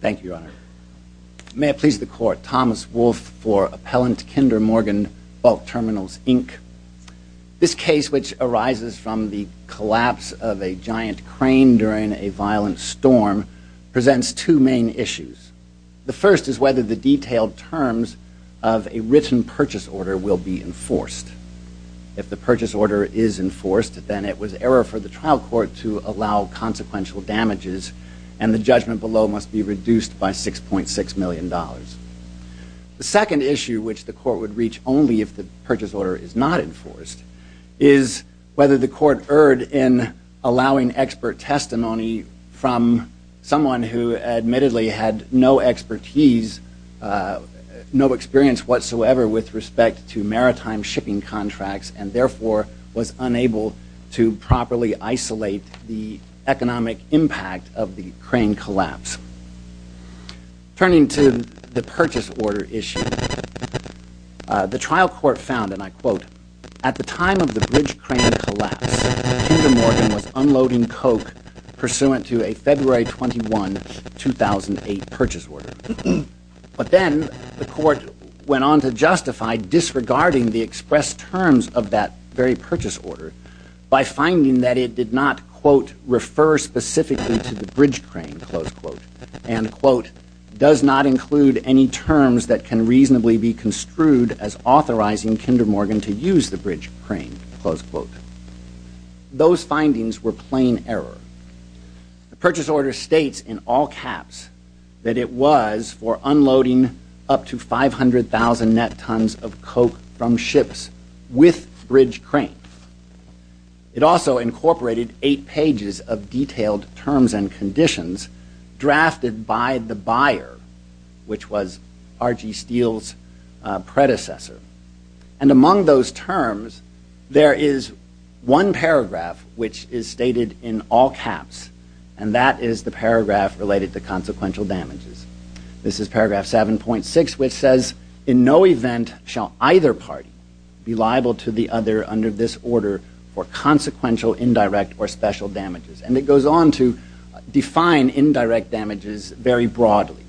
Thank you, Your Honor. May it please the Court, Thomas Wolfe for Appellant Kinder Morgan Bulk Terminals, Inc. This case, which arises from the collapse of a giant crane during a violent storm, presents two main issues. The first is whether the detailed terms of a written purchase order will be enforced. If the purchase order is enforced, then it was error for the trial court to allow consequential damages, and the judgment below must be reduced by $6.6 million. The second issue, which the Court would reach only if the purchase order is not enforced, is whether the Court erred in allowing expert testimony from someone who admittedly had no expertise, no experience whatsoever with respect to maritime shipping contracts, and the impact of the crane collapse. Turning to the purchase order issue, the trial court found, and I quote, at the time of the bridge crane collapse, Kinder Morgan was unloading coke pursuant to a February 21, 2008 purchase order. But then the Court went on to justify disregarding the expressed terms of that very purchase by finding that it did not, quote, refer specifically to the bridge crane, close quote, and, quote, does not include any terms that can reasonably be construed as authorizing Kinder Morgan to use the bridge crane, close quote. Those findings were plain error. The purchase order states in all caps that it was for unloading up to 500,000 net tons of coke from ships with bridge crane. It also incorporated eight pages of detailed terms and conditions drafted by the buyer, which was R.G. Steele's predecessor. And among those terms, there is one paragraph which is stated in all caps, and that is the paragraph related to consequential damages. This is paragraph 7.6, which says, in no event shall either party be liable to the other under this order for consequential, indirect, or special damages. And it goes on to define indirect damages very broadly.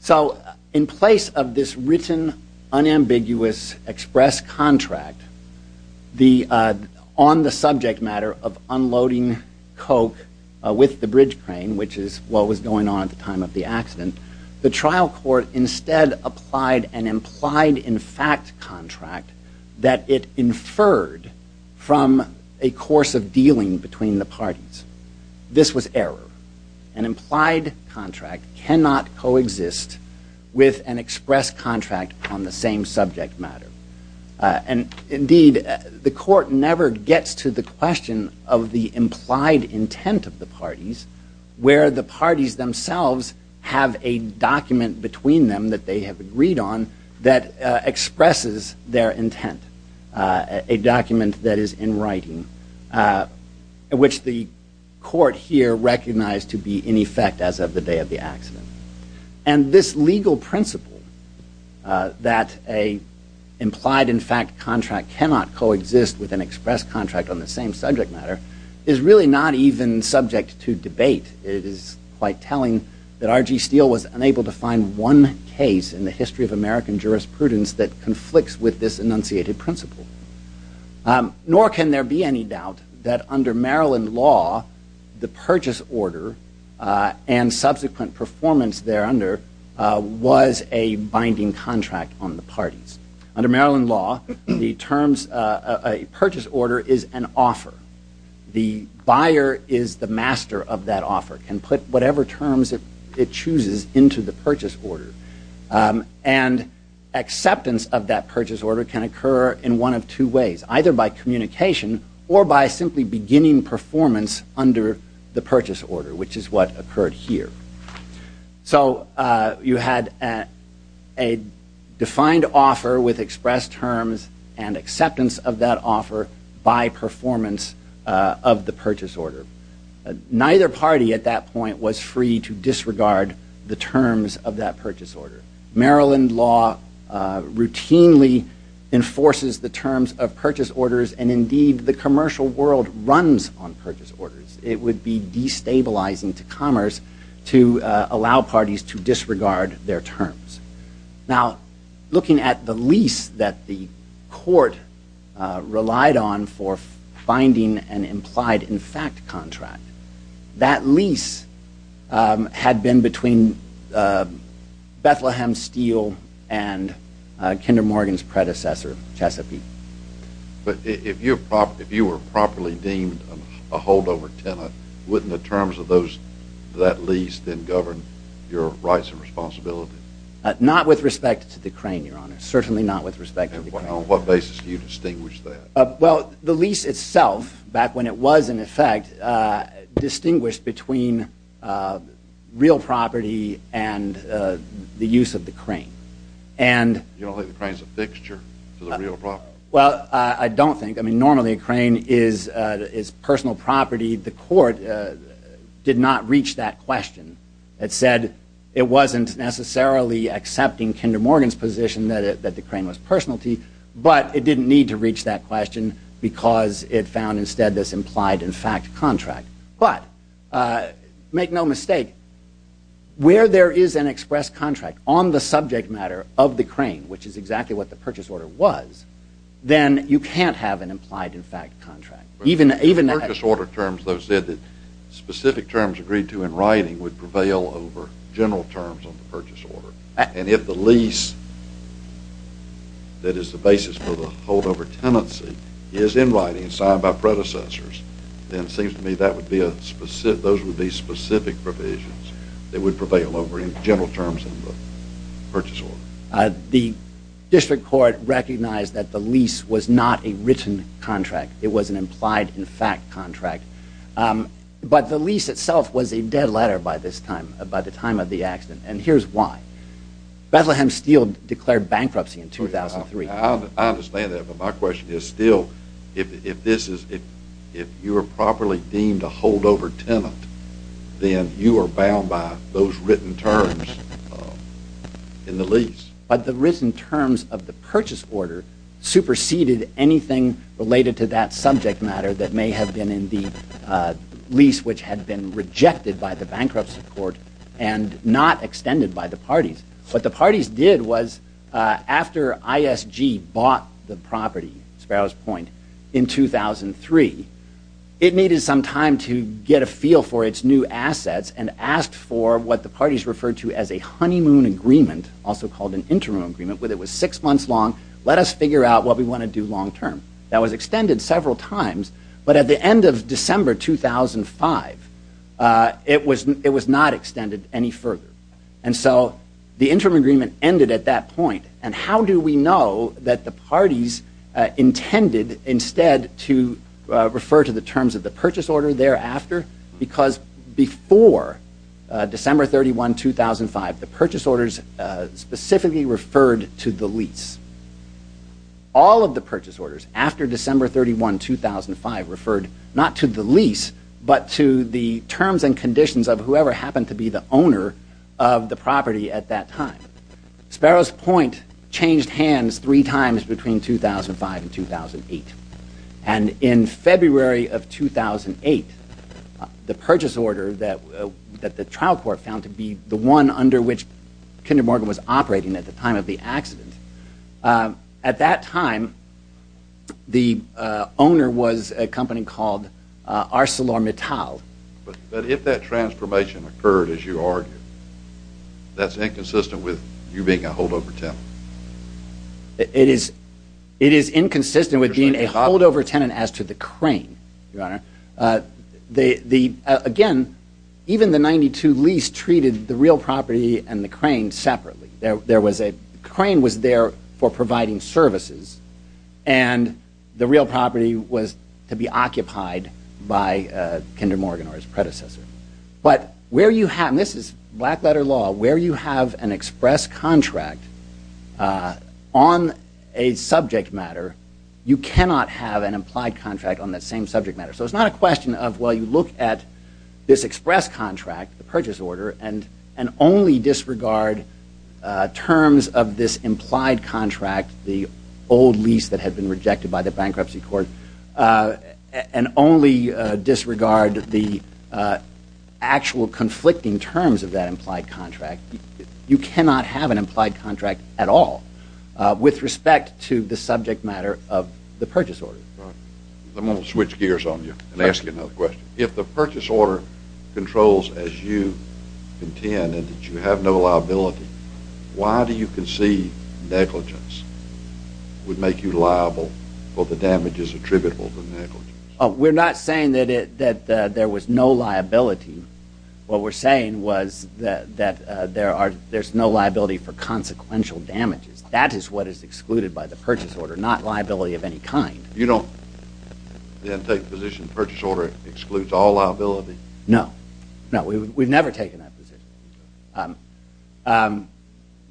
So in place of this written, unambiguous, express contract, on the subject matter of time of the accident, the trial court instead applied an implied in fact contract that it inferred from a course of dealing between the parties. This was error. An implied contract cannot coexist with an express contract on the same subject matter. And indeed, the court never gets to the question of the implied intent of the parties where the parties themselves have a document between them that they have agreed on that expresses their intent, a document that is in writing, which the court here recognized to be in effect as of the day of the accident. And this legal principle that an implied in fact contract cannot coexist with an express contract on the same subject matter is really not even subject to debate. It is quite telling that R.G. Steele was unable to find one case in the history of American jurisprudence that conflicts with this enunciated principle. Nor can there be any doubt that under Maryland law, the purchase order and subsequent performance there under was a binding contract on the parties. Under Maryland law, a purchase order is an offer. The buyer is the master of that offer, can put whatever terms it chooses into the purchase order. And acceptance of that purchase order can occur in one of two ways, either by communication or by simply beginning performance under the purchase order, which is what occurred here. So, you had a defined offer with expressed terms and acceptance of that offer by performance of the purchase order. Neither party at that point was free to disregard the terms of that purchase order. Maryland law routinely enforces the terms of purchase orders and indeed the commercial world runs on purchase orders. It would be destabilizing to commerce to allow parties to disregard their terms. Now, looking at the lease that the court relied on for finding an implied in fact contract, that lease had been between Bethlehem Steele and Kinder Morgan's predecessor, Chesapeake. But if you were properly deemed a holdover tenant, wouldn't the terms of that lease then govern your rights and responsibility? Not with respect to the crane, Your Honor. Certainly not with respect to the crane. And on what basis do you distinguish that? Well, the lease itself, back when it was in effect, distinguished between real property and the use of the crane. You don't think the crane is a fixture to the real property? Well, I don't think. I mean, normally a crane is personal property. The court did not reach that question. It said it wasn't necessarily accepting Kinder Morgan's position that the crane was personality, but it didn't need to reach that question because it found instead this implied in fact contract. But, make no mistake, where there is an express contract on the subject matter of the crane, which is exactly what the purchase order was, then you can't have an implied in fact contract. Even the purchase order terms, those specific terms agreed to in writing would prevail over general terms of the purchase order. And if the lease that is the basis for the holdover tenancy is in writing and signed by predecessors, then it seems to me those would be specific provisions that would prevail over general terms of the purchase order. The district court recognized that the lease was not a written contract. It was an implied in fact contract. But the lease itself was a dead letter by this time, by the time of the accident. And here's why. Bethlehem Steel declared bankruptcy in 2003. I understand that, but my question is still, if you are properly deemed a holdover tenant, then you are bound by those written terms in the lease. But the written terms of the purchase order superseded anything related to that subject matter that may have been in the lease, which had been rejected by the bankruptcy court and not extended by the parties. What the parties did was, after ISG bought the property, Sparrows Point, in 2003, it needed some time to get a feel for its new assets and asked for what the parties referred to as a honeymoon agreement, also called an interim agreement, where it was six months long, let us figure out what we want to do long term. That was extended several times, but at the end of December 2005, it was not extended any further. And so the interim agreement ended at that point. And how do we know that the parties intended instead to refer to the terms of the purchase order thereafter? Because before December 31, 2005, the purchase orders specifically referred to the lease. All of the purchase orders after December 31, 2005, referred not to the lease, but to the terms and conditions of whoever happened to be the owner of the property at that time. Sparrows Point changed hands three times between 2005 and 2008. And in February of 2008, the purchase order that the trial court found to be the one under which Kinder Morgan was operating at the time of the accident, at that time, the owner was a company called ArcelorMittal. But if that transformation occurred, as you argued, that's inconsistent with you being a holdover tenant? It is inconsistent with being a holdover tenant as to the crane, Your Honor. Even the 92 lease treated the real property and the crane separately. There was a crane was there for providing services. And the real property was to be occupied by Kinder Morgan or his predecessor. But where you have, and this is black letter law, where you have an express contract on a subject matter, you cannot have an implied contract on that same subject matter. So it's not a question of, well, you look at this express contract, the purchase order, and only disregard terms of this implied contract, the old lease that had been rejected by the bankruptcy court, and only disregard the actual conflicting terms of that implied contract. You cannot have an implied contract at all with respect to the subject matter of the purchase order. I'm going to switch gears on you and ask you another question. If the purchase order controls, as you contend, that you have no liability, why do you concede negligence would make you liable for the damages attributable to negligence? We're not saying that there was no liability. What we're saying was that there's no liability for consequential damages. That is what is excluded by the purchase order, not liability of any kind. You don't then take the position that the purchase order excludes all liability? No, no, we've never taken that position.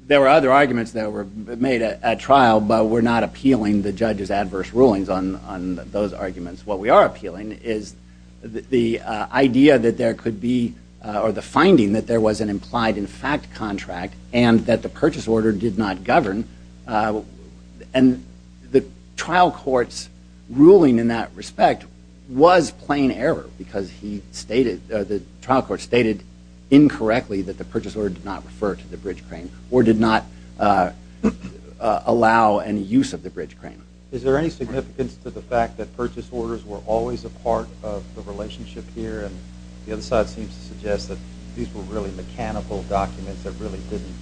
There were other arguments that were made at trial, but we're not appealing the judge's adverse rulings on those arguments. What we are appealing is the idea that there could be, or the finding that there was an implied in fact contract, and that the purchase order did not govern, and the trial courts ruling in that respect was plain error, because the trial court stated incorrectly that the purchase order did not refer to the bridge crane, or did not allow any use of the bridge crane. Is there any significance to the fact that purchase orders were always a part of the relationship here, and the other side seems to suggest that these were really mechanical documents that really didn't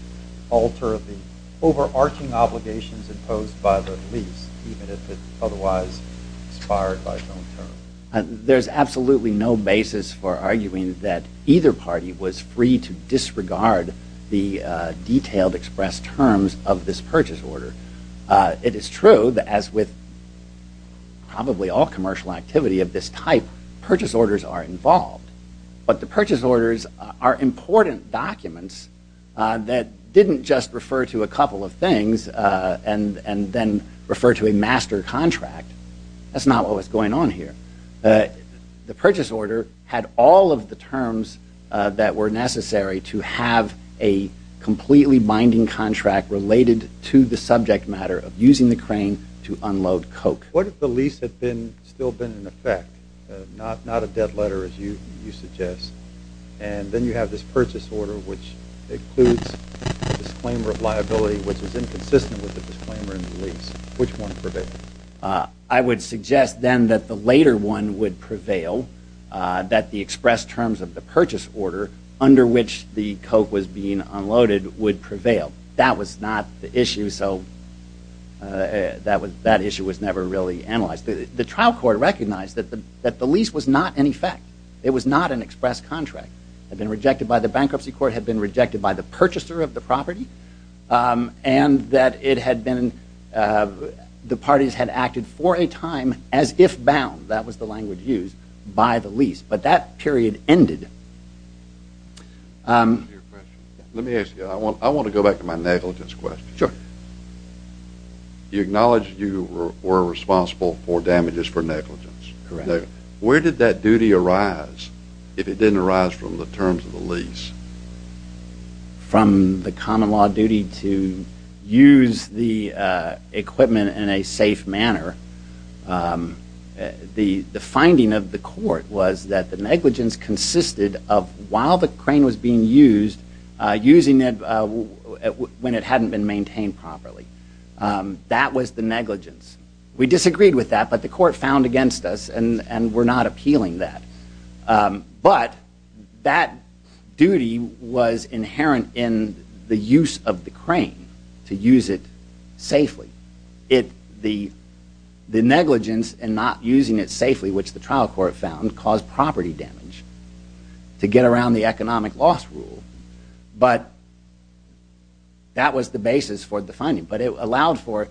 alter the overarching obligations imposed by the lease, even if it was inspired by its own terms? There's absolutely no basis for arguing that either party was free to disregard the detailed express terms of this purchase order. It is true that as with probably all commercial activity of this type, purchase orders are involved, but the purchase orders are important documents that didn't just refer to a couple of things, and then refer to a master contract. That's not what was going on here. The purchase order had all of the terms that were necessary to have a completely binding contract related to the subject matter of using the crane to unload coke. What if the lease had still been in effect, not a debt letter as you suggest, and then you have this purchase order, which includes a disclaimer of liability, which is inconsistent with the disclaimer in the lease, which one prevailed? I would suggest then that the later one would prevail, that the express terms of the purchase order under which the coke was being unloaded would prevail. That was not the issue, so that issue was never really analyzed. The trial court recognized that the lease was not in effect. It was not an express contract. It had been rejected by the bankruptcy court, had been rejected by the purchaser of the property, and that it had been, the parties had acted for a time as if bound, that was the language used, by the lease. But that period ended. Let me ask you, I want to go back to my negligence question. You acknowledged you were responsible for damages for negligence. Correct. Where did that duty arise if it didn't arise from the terms of the lease? From the common law duty to use the equipment in a safe manner. The finding of the court was that the negligence consisted of, while the crane was being used, using it when it hadn't been maintained properly. That was the negligence. We disagreed with that, but the court found against us and were not appealing that. But that duty was inherent in the use of the crane, to use it safely. The negligence in not using it safely, which the trial court found, caused property damage to get around the economic loss rule. But that was the basis for the finding. But it allowed for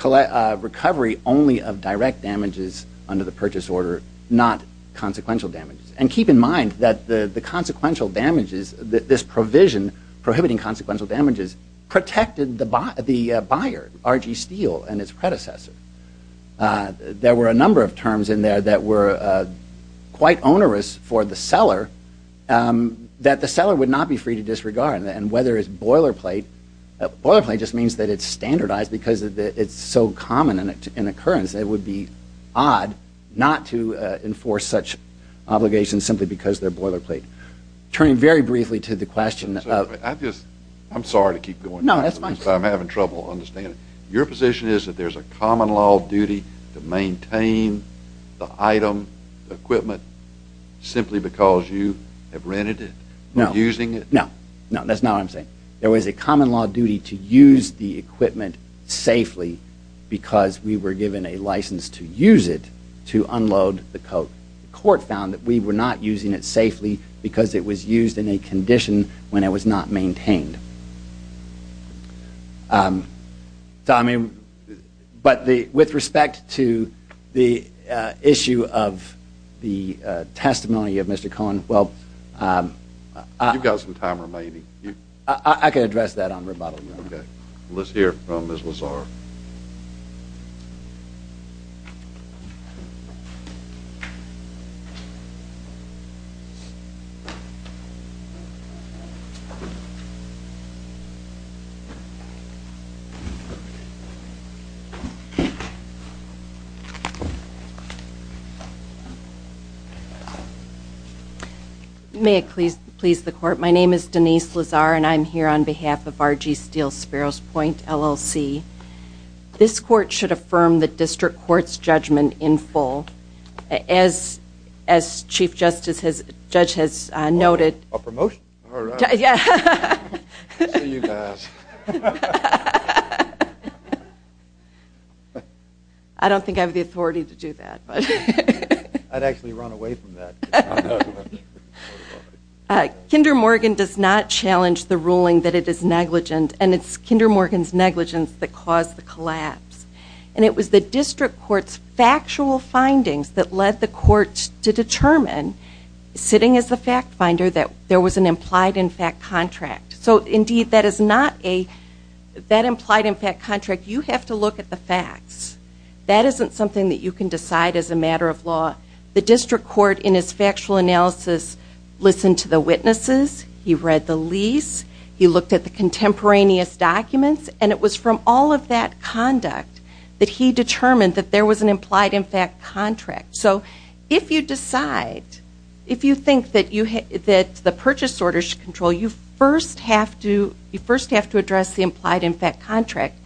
recovery only of direct damages under the purchase order, not consequential damages. And keep in mind that the consequential damages, this provision prohibiting consequential damages, protected the buyer, R.G. Steele and his predecessor. There were a number of terms in there that were quite onerous for the seller, that the buyer could be free to disregard. And whether it's boilerplate, boilerplate just means that it's standardized because it's so common in occurrence, it would be odd not to enforce such obligations simply because they're boilerplate. Turning very briefly to the question of- I'm sorry to keep going on, but I'm having trouble understanding. Your position is that there's a common law duty to maintain the item, the equipment, simply because you have rented it or using it? No. No, that's not what I'm saying. There was a common law duty to use the equipment safely because we were given a license to use it to unload the coat. The court found that we were not using it safely because it was used in a condition when it was not maintained. But with respect to the issue of the testimony of Mr. Cohen, well- You've got some time remaining. I can address that on rebuttal, Your Honor. Okay. May it please the court. My name is Denise Lazar, and I'm here on behalf of R. G. Steele Sparrows Point, LLC. This court should affirm the district court's judgment in full. As Chief Justice has- Judge has noted- A promotion? All right. Yeah. I don't think I have the authority to do that, but- I'd actually run away from that. Kinder Morgan does not challenge the ruling that it is negligent, and it's Kinder Morgan's negligence that caused the collapse. And it was the district court's factual findings that led the court to determine, sitting as a fact finder, that there was an implied-in-fact contract. So indeed, that is not a- That implied-in-fact contract, you have to look at the facts. That isn't something that you can decide as a matter of law. The district court, in its factual analysis, listened to the witnesses, he read the lease, he looked at the contemporaneous documents, and it was from all of that conduct that he determined that there was an implied-in-fact contract. So if you decide, if you think that the purchase order should control you, you first have to address the implied-in-fact contract,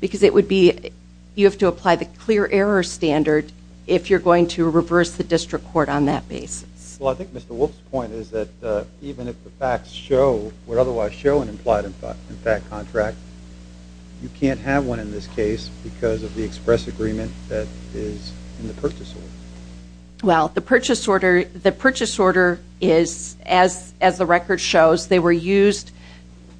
because it would be- You have to apply the clear error standard if you're going to reverse the district court on that basis. Well, I think Mr. Wolf's point is that even if the facts show, or otherwise show, an implied-in-fact contract, you can't have one in this case because of the express agreement that is in the purchase order. Well, the purchase order is, as the record shows, they were used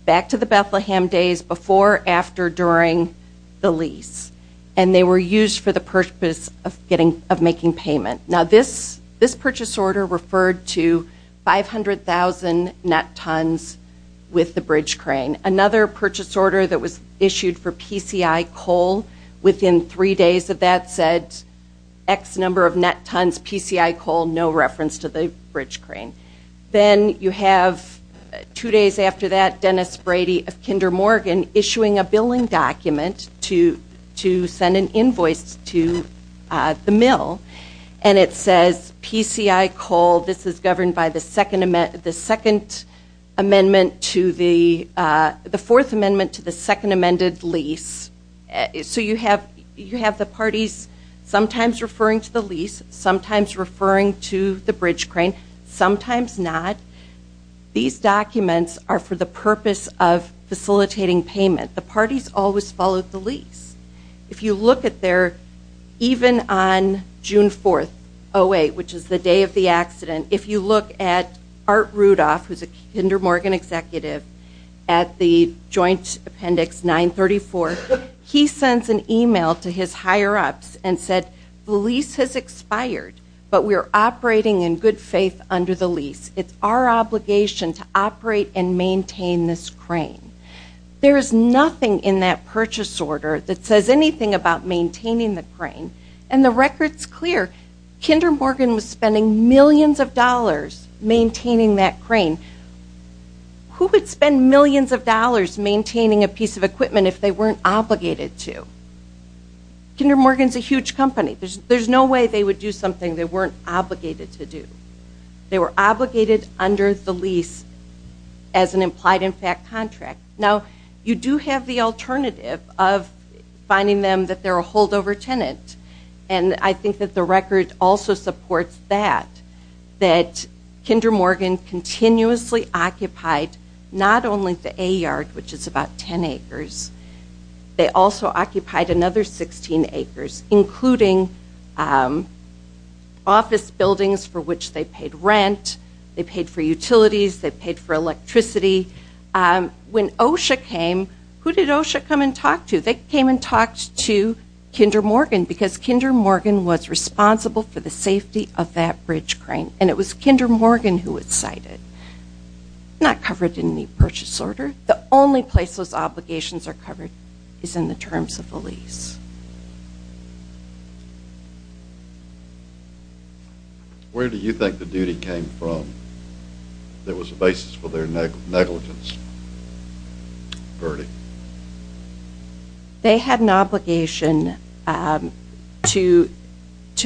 back to the Bethlehem days before, after, during the lease. And they were used for the purpose of making payment. Now this purchase order referred to 500,000 net tons with the bridge crane. Another purchase order that was issued for PCI coal within three days of that said X number of net tons, PCI coal, no reference to the bridge crane. Then you have two days after that, Dennis Brady of Kinder Morgan issuing a billing document to send an invoice to the mill, and it says, PCI coal, this is governed by the second amendment to the, the fourth amendment to the second amended lease. So you have the parties sometimes referring to the lease, sometimes referring to the bridge crane, sometimes not. These documents are for the purpose of facilitating payment. The parties always followed the lease. If you look at their, even on June 4th, 08, which is the day of the accident, if you look at Art Rudolph, who's a Kinder Morgan executive, at the joint appendix 934, he sends an email to his higher ups and said, the lease has expired, but we're operating in good faith under the lease. It's our obligation to operate and maintain this crane. There's nothing in that purchase order that says anything about maintaining the crane. And the record's clear. Kinder Morgan was spending millions of dollars maintaining that crane. Who would spend millions of dollars maintaining a piece of equipment if they weren't obligated to? Kinder Morgan's a huge company. There's no way they would do something they weren't obligated to do. They were obligated under the lease as an implied in fact contract. Now, you do have the alternative of finding them that they're a holdover tenant. And I think that the record also supports that, that Kinder Morgan continuously occupied not only the A yard, which is about 10 acres, they also occupied another 16 acres, including office buildings for which they paid rent, they paid for utilities, they paid for electricity. When OSHA came, who did OSHA come and talk to? They came and talked to Kinder Morgan, because Kinder Morgan was responsible for the safety of that bridge crane. And it was Kinder Morgan who was cited. Not covered in the purchase order. The only place those obligations are covered is in the terms of the lease. Where do you think the duty came from that was the basis for their negligence, Bertie? They had an obligation to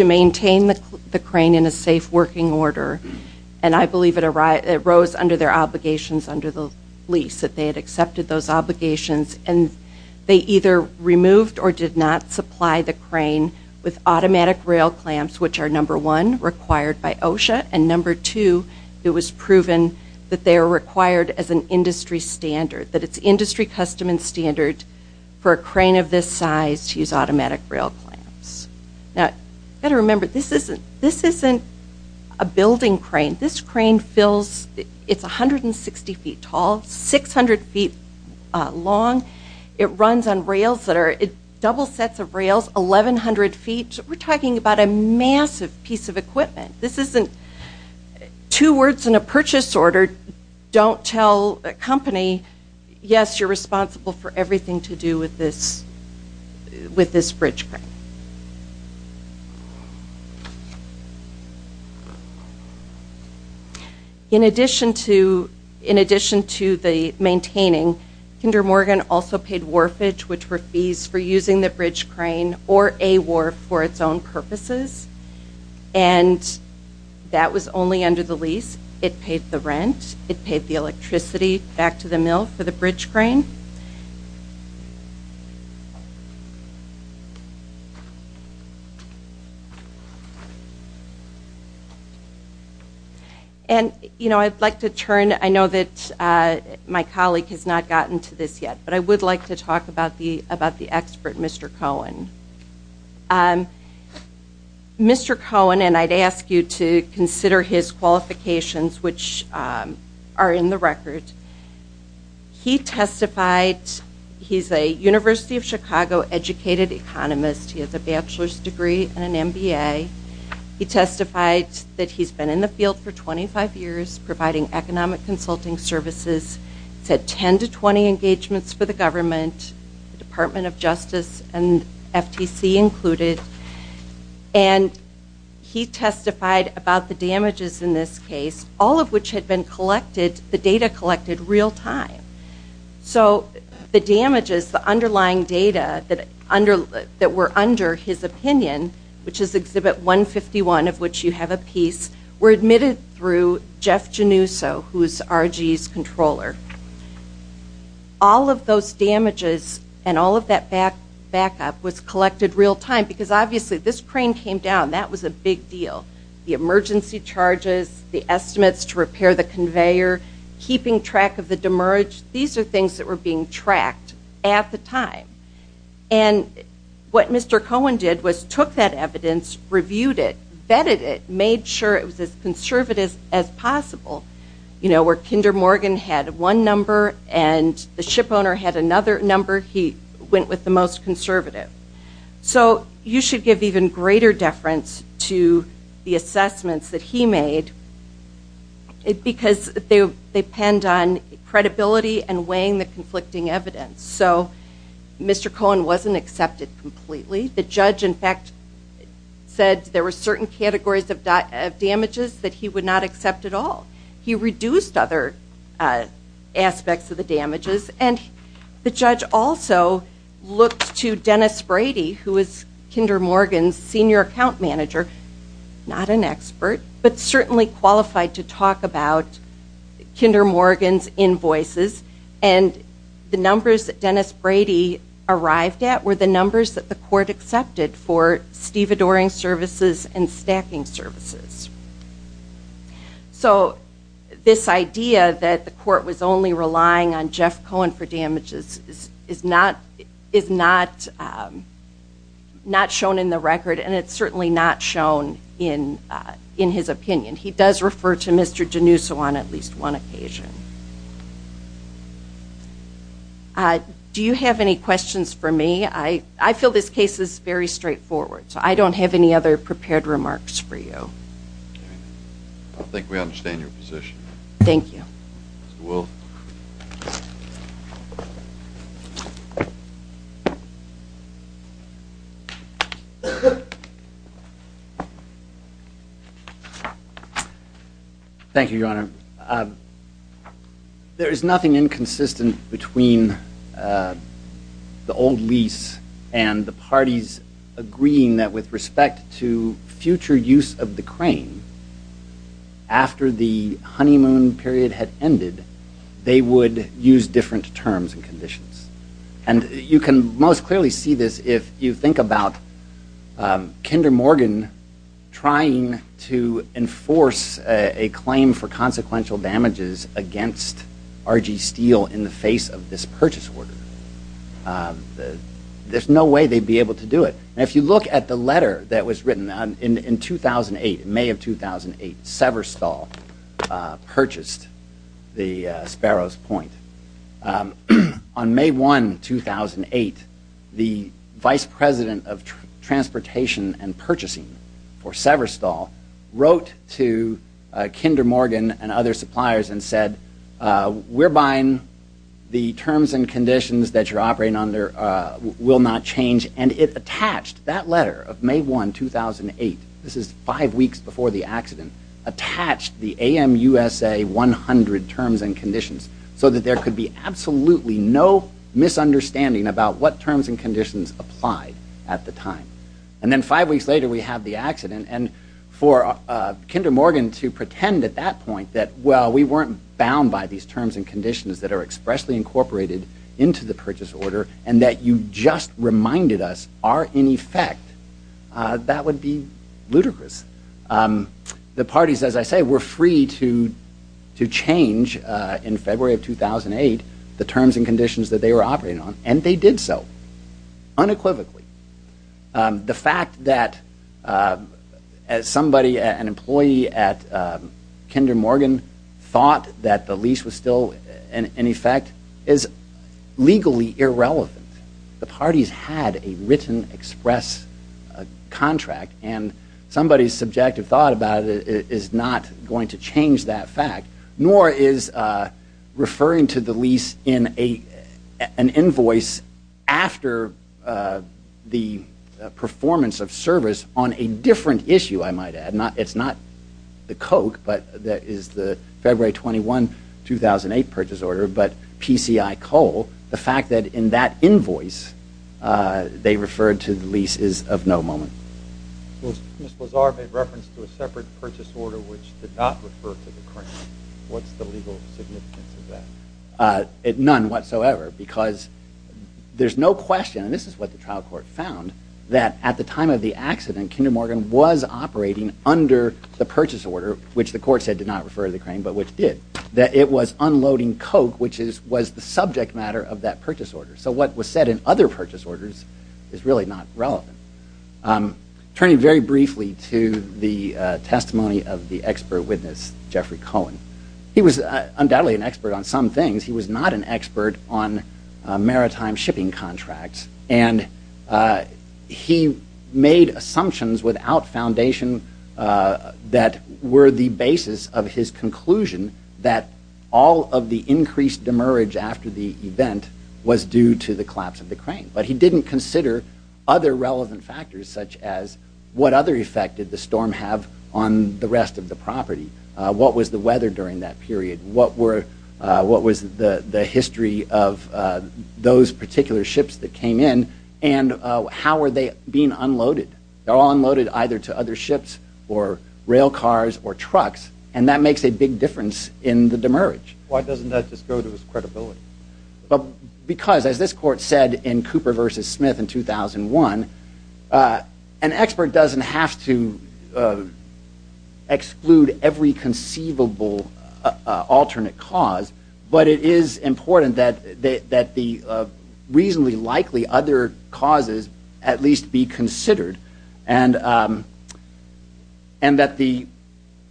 maintain the crane in a safe working order. And I believe it arose under their obligations under the lease, that they had accepted those obligations. And they either removed or did not supply the crane with automatic rail clamps, which are number one, required by OSHA. And number two, it was proven that they are required as an industry standard. That it's industry custom and standard for a crane of this size to use automatic rail clamps. Now, you've got to remember, this isn't a building crane. This crane fills, it's 160 feet tall, 600 feet long. It runs on rails that are, double sets of rails, 1,100 feet. We're talking about a massive piece of equipment. This isn't, two words in a purchase order don't tell a company, yes, you're responsible for everything to do with this, with this bridge crane. In addition to, in addition to the maintaining, Kinder Morgan also paid wharfage, which were fees for using the bridge crane, or a wharf for its own purposes. And that was only under the lease. It paid the rent. It paid the electricity back to the mill for the bridge crane. And you know, I'd like to turn, I know that my colleague has not gotten to this yet, but I would like to talk about the, about the expert, Mr. Cohen. Mr. Cohen, and I'd ask you to consider his qualifications, which are in the record. He testified, he's a University of Chicago educated economist. He has a bachelor's degree and an MBA. He testified that he's been in the field for 25 years providing economic consulting services. He's had 10 to 20 engagements for the government, the Department of Justice and FTC included. And he testified about the damages in this case, all of which had been collected, the data collected real time. So the damages, the underlying data that were under his opinion, which is Exhibit 151, of which you have a piece, were admitted through Jeff Genuso, who is RG's controller. All of those damages and all of that backup was collected real time, because obviously this crane came down. That was a big deal. The emergency charges, the estimates to repair the conveyor, keeping track of the demerge, these are things that were being tracked at the time. And what Mr. Cohen did was took that evidence, reviewed it, vetted it, made sure it was as conservative as possible. You know, where Kinder Morgan had one number and the shipowner had another number, he went with the most conservative. So you should give even greater deference to the assessments that he made, because they penned on credibility and weighing the conflicting evidence. So Mr. Cohen wasn't accepted completely. The judge, in fact, said there were certain categories of damages that he would not accept at all. He reduced other aspects of the damages. And the judge also looked to Dennis Brady, who is Kinder Morgan's senior account manager. Not an expert, but certainly qualified to talk about Kinder Morgan's invoices. And the numbers that Dennis Brady arrived at were the numbers that the court accepted for stevedoring services and stacking services. So, this idea that the court was only relying on Jeff Cohen for damages is not shown in the record, and it's certainly not shown in his opinion. He does refer to Mr. Genuso on at least one occasion. Do you have any questions for me? I feel this case is very straightforward, so I don't have any other prepared remarks for you. All right. I think we understand your position. Thank you. Mr. Wolf? Thank you, Your Honor. There is nothing inconsistent between the old lease and the parties agreeing that with respect to future use of the crane, after the honeymoon period had ended, they would use different terms and conditions. And you can most clearly see this if you think about Kinder Morgan trying to enforce a claim for consequential damages against RG Steel in the face of this purchase order. There's no way they'd be able to do it. If you look at the letter that was written in 2008, May of 2008, Severstall purchased the Sparrows Point. On May 1, 2008, the Vice President of Transportation and Purchasing for Severstall wrote to Kinder Morgan and other suppliers and said, we're buying the terms and conditions that you're attached. That letter of May 1, 2008, this is five weeks before the accident, attached the AMUSA 100 terms and conditions so that there could be absolutely no misunderstanding about what terms and conditions applied at the time. And then five weeks later, we have the accident. And for Kinder Morgan to pretend at that point that, well, we weren't bound by these terms and conditions that are expressly incorporated into the purchase order and that you just reminded us are in effect, that would be ludicrous. The parties, as I say, were free to change in February of 2008 the terms and conditions that they were operating on, and they did so unequivocally. The fact that somebody, an employee at Kinder Morgan, thought that the lease was still in effect is legally irrelevant. The parties had a written express contract. And somebody's subjective thought about it is not going to change that fact, nor is referring to the lease in an invoice after the performance of service on a different issue, I might add. It's not the Coke, but that is the February 21, 2008 purchase order, but PCI Coal. The fact that in that invoice, they referred to the lease is of no moment. Well, Ms. Lazar made reference to a separate purchase order which did not refer to the crane. What's the legal significance of that? None whatsoever, because there's no question, and this is what the trial court found, that at the time of the accident, Kinder Morgan was operating under the purchase order, which the court said did not refer to the crane, but which did. That it was unloading Coke, which was the subject matter of that purchase order. So what was said in other purchase orders is really not relevant. Turning very briefly to the testimony of the expert witness, Jeffrey Cohen. He was undoubtedly an expert on some things. He was not an expert on maritime shipping contracts. And he made assumptions without foundation that were the basis of his conclusion that all of the increased demerge after the event was due to the collapse of the crane. But he didn't consider other relevant factors, such as what other effect did the storm have on the rest of the property? What was the weather during that period? What was the history of those particular ships that came in? And how were they being unloaded? They were all unloaded either to other ships or rail cars or trucks, and that makes a big difference in the demerge. Why doesn't that just go to his credibility? Because as this court said in Cooper v. Smith in 2001, an expert doesn't have to exclude every conceivable alternate cause. But it is important that the reasonably likely other causes at least be considered. And that the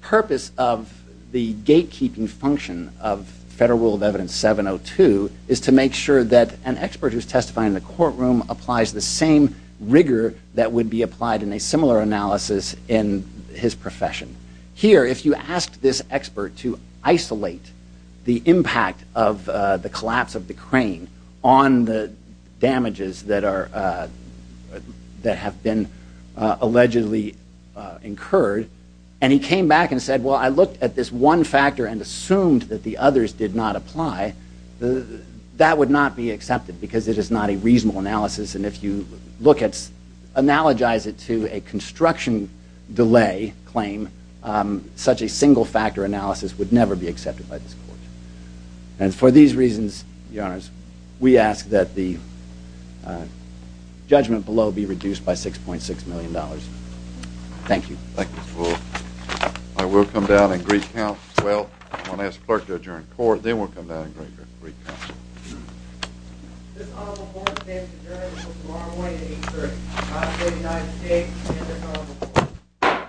purpose of the gatekeeping function of Federal Rule of Evidence 702 is to make sure that an expert who's testifying in the courtroom applies the same rigor that would be applied in a similar analysis in his profession. Here, if you ask this expert to isolate the impact of the collapse of the crane on the damages that have been allegedly incurred, and he came back and said, well, I looked at this one factor and assumed that the others did not apply, that would not be accepted because it is not a reasonable analysis. And if you look at, analogize it to a construction delay claim, such a single-factor analysis would never be accepted by this court. And for these reasons, Your Honors, we ask that the judgment below be reduced by $6.6 million. Thank you. Thank you, Mr. Bull. I will come down and recount. Well, I'm going to ask the clerk to adjourn the court, then we'll come down and recount. This Honorable Board of Trustees adjourns until tomorrow morning at 830. I say to the United States, and this Honorable Board of Trustees.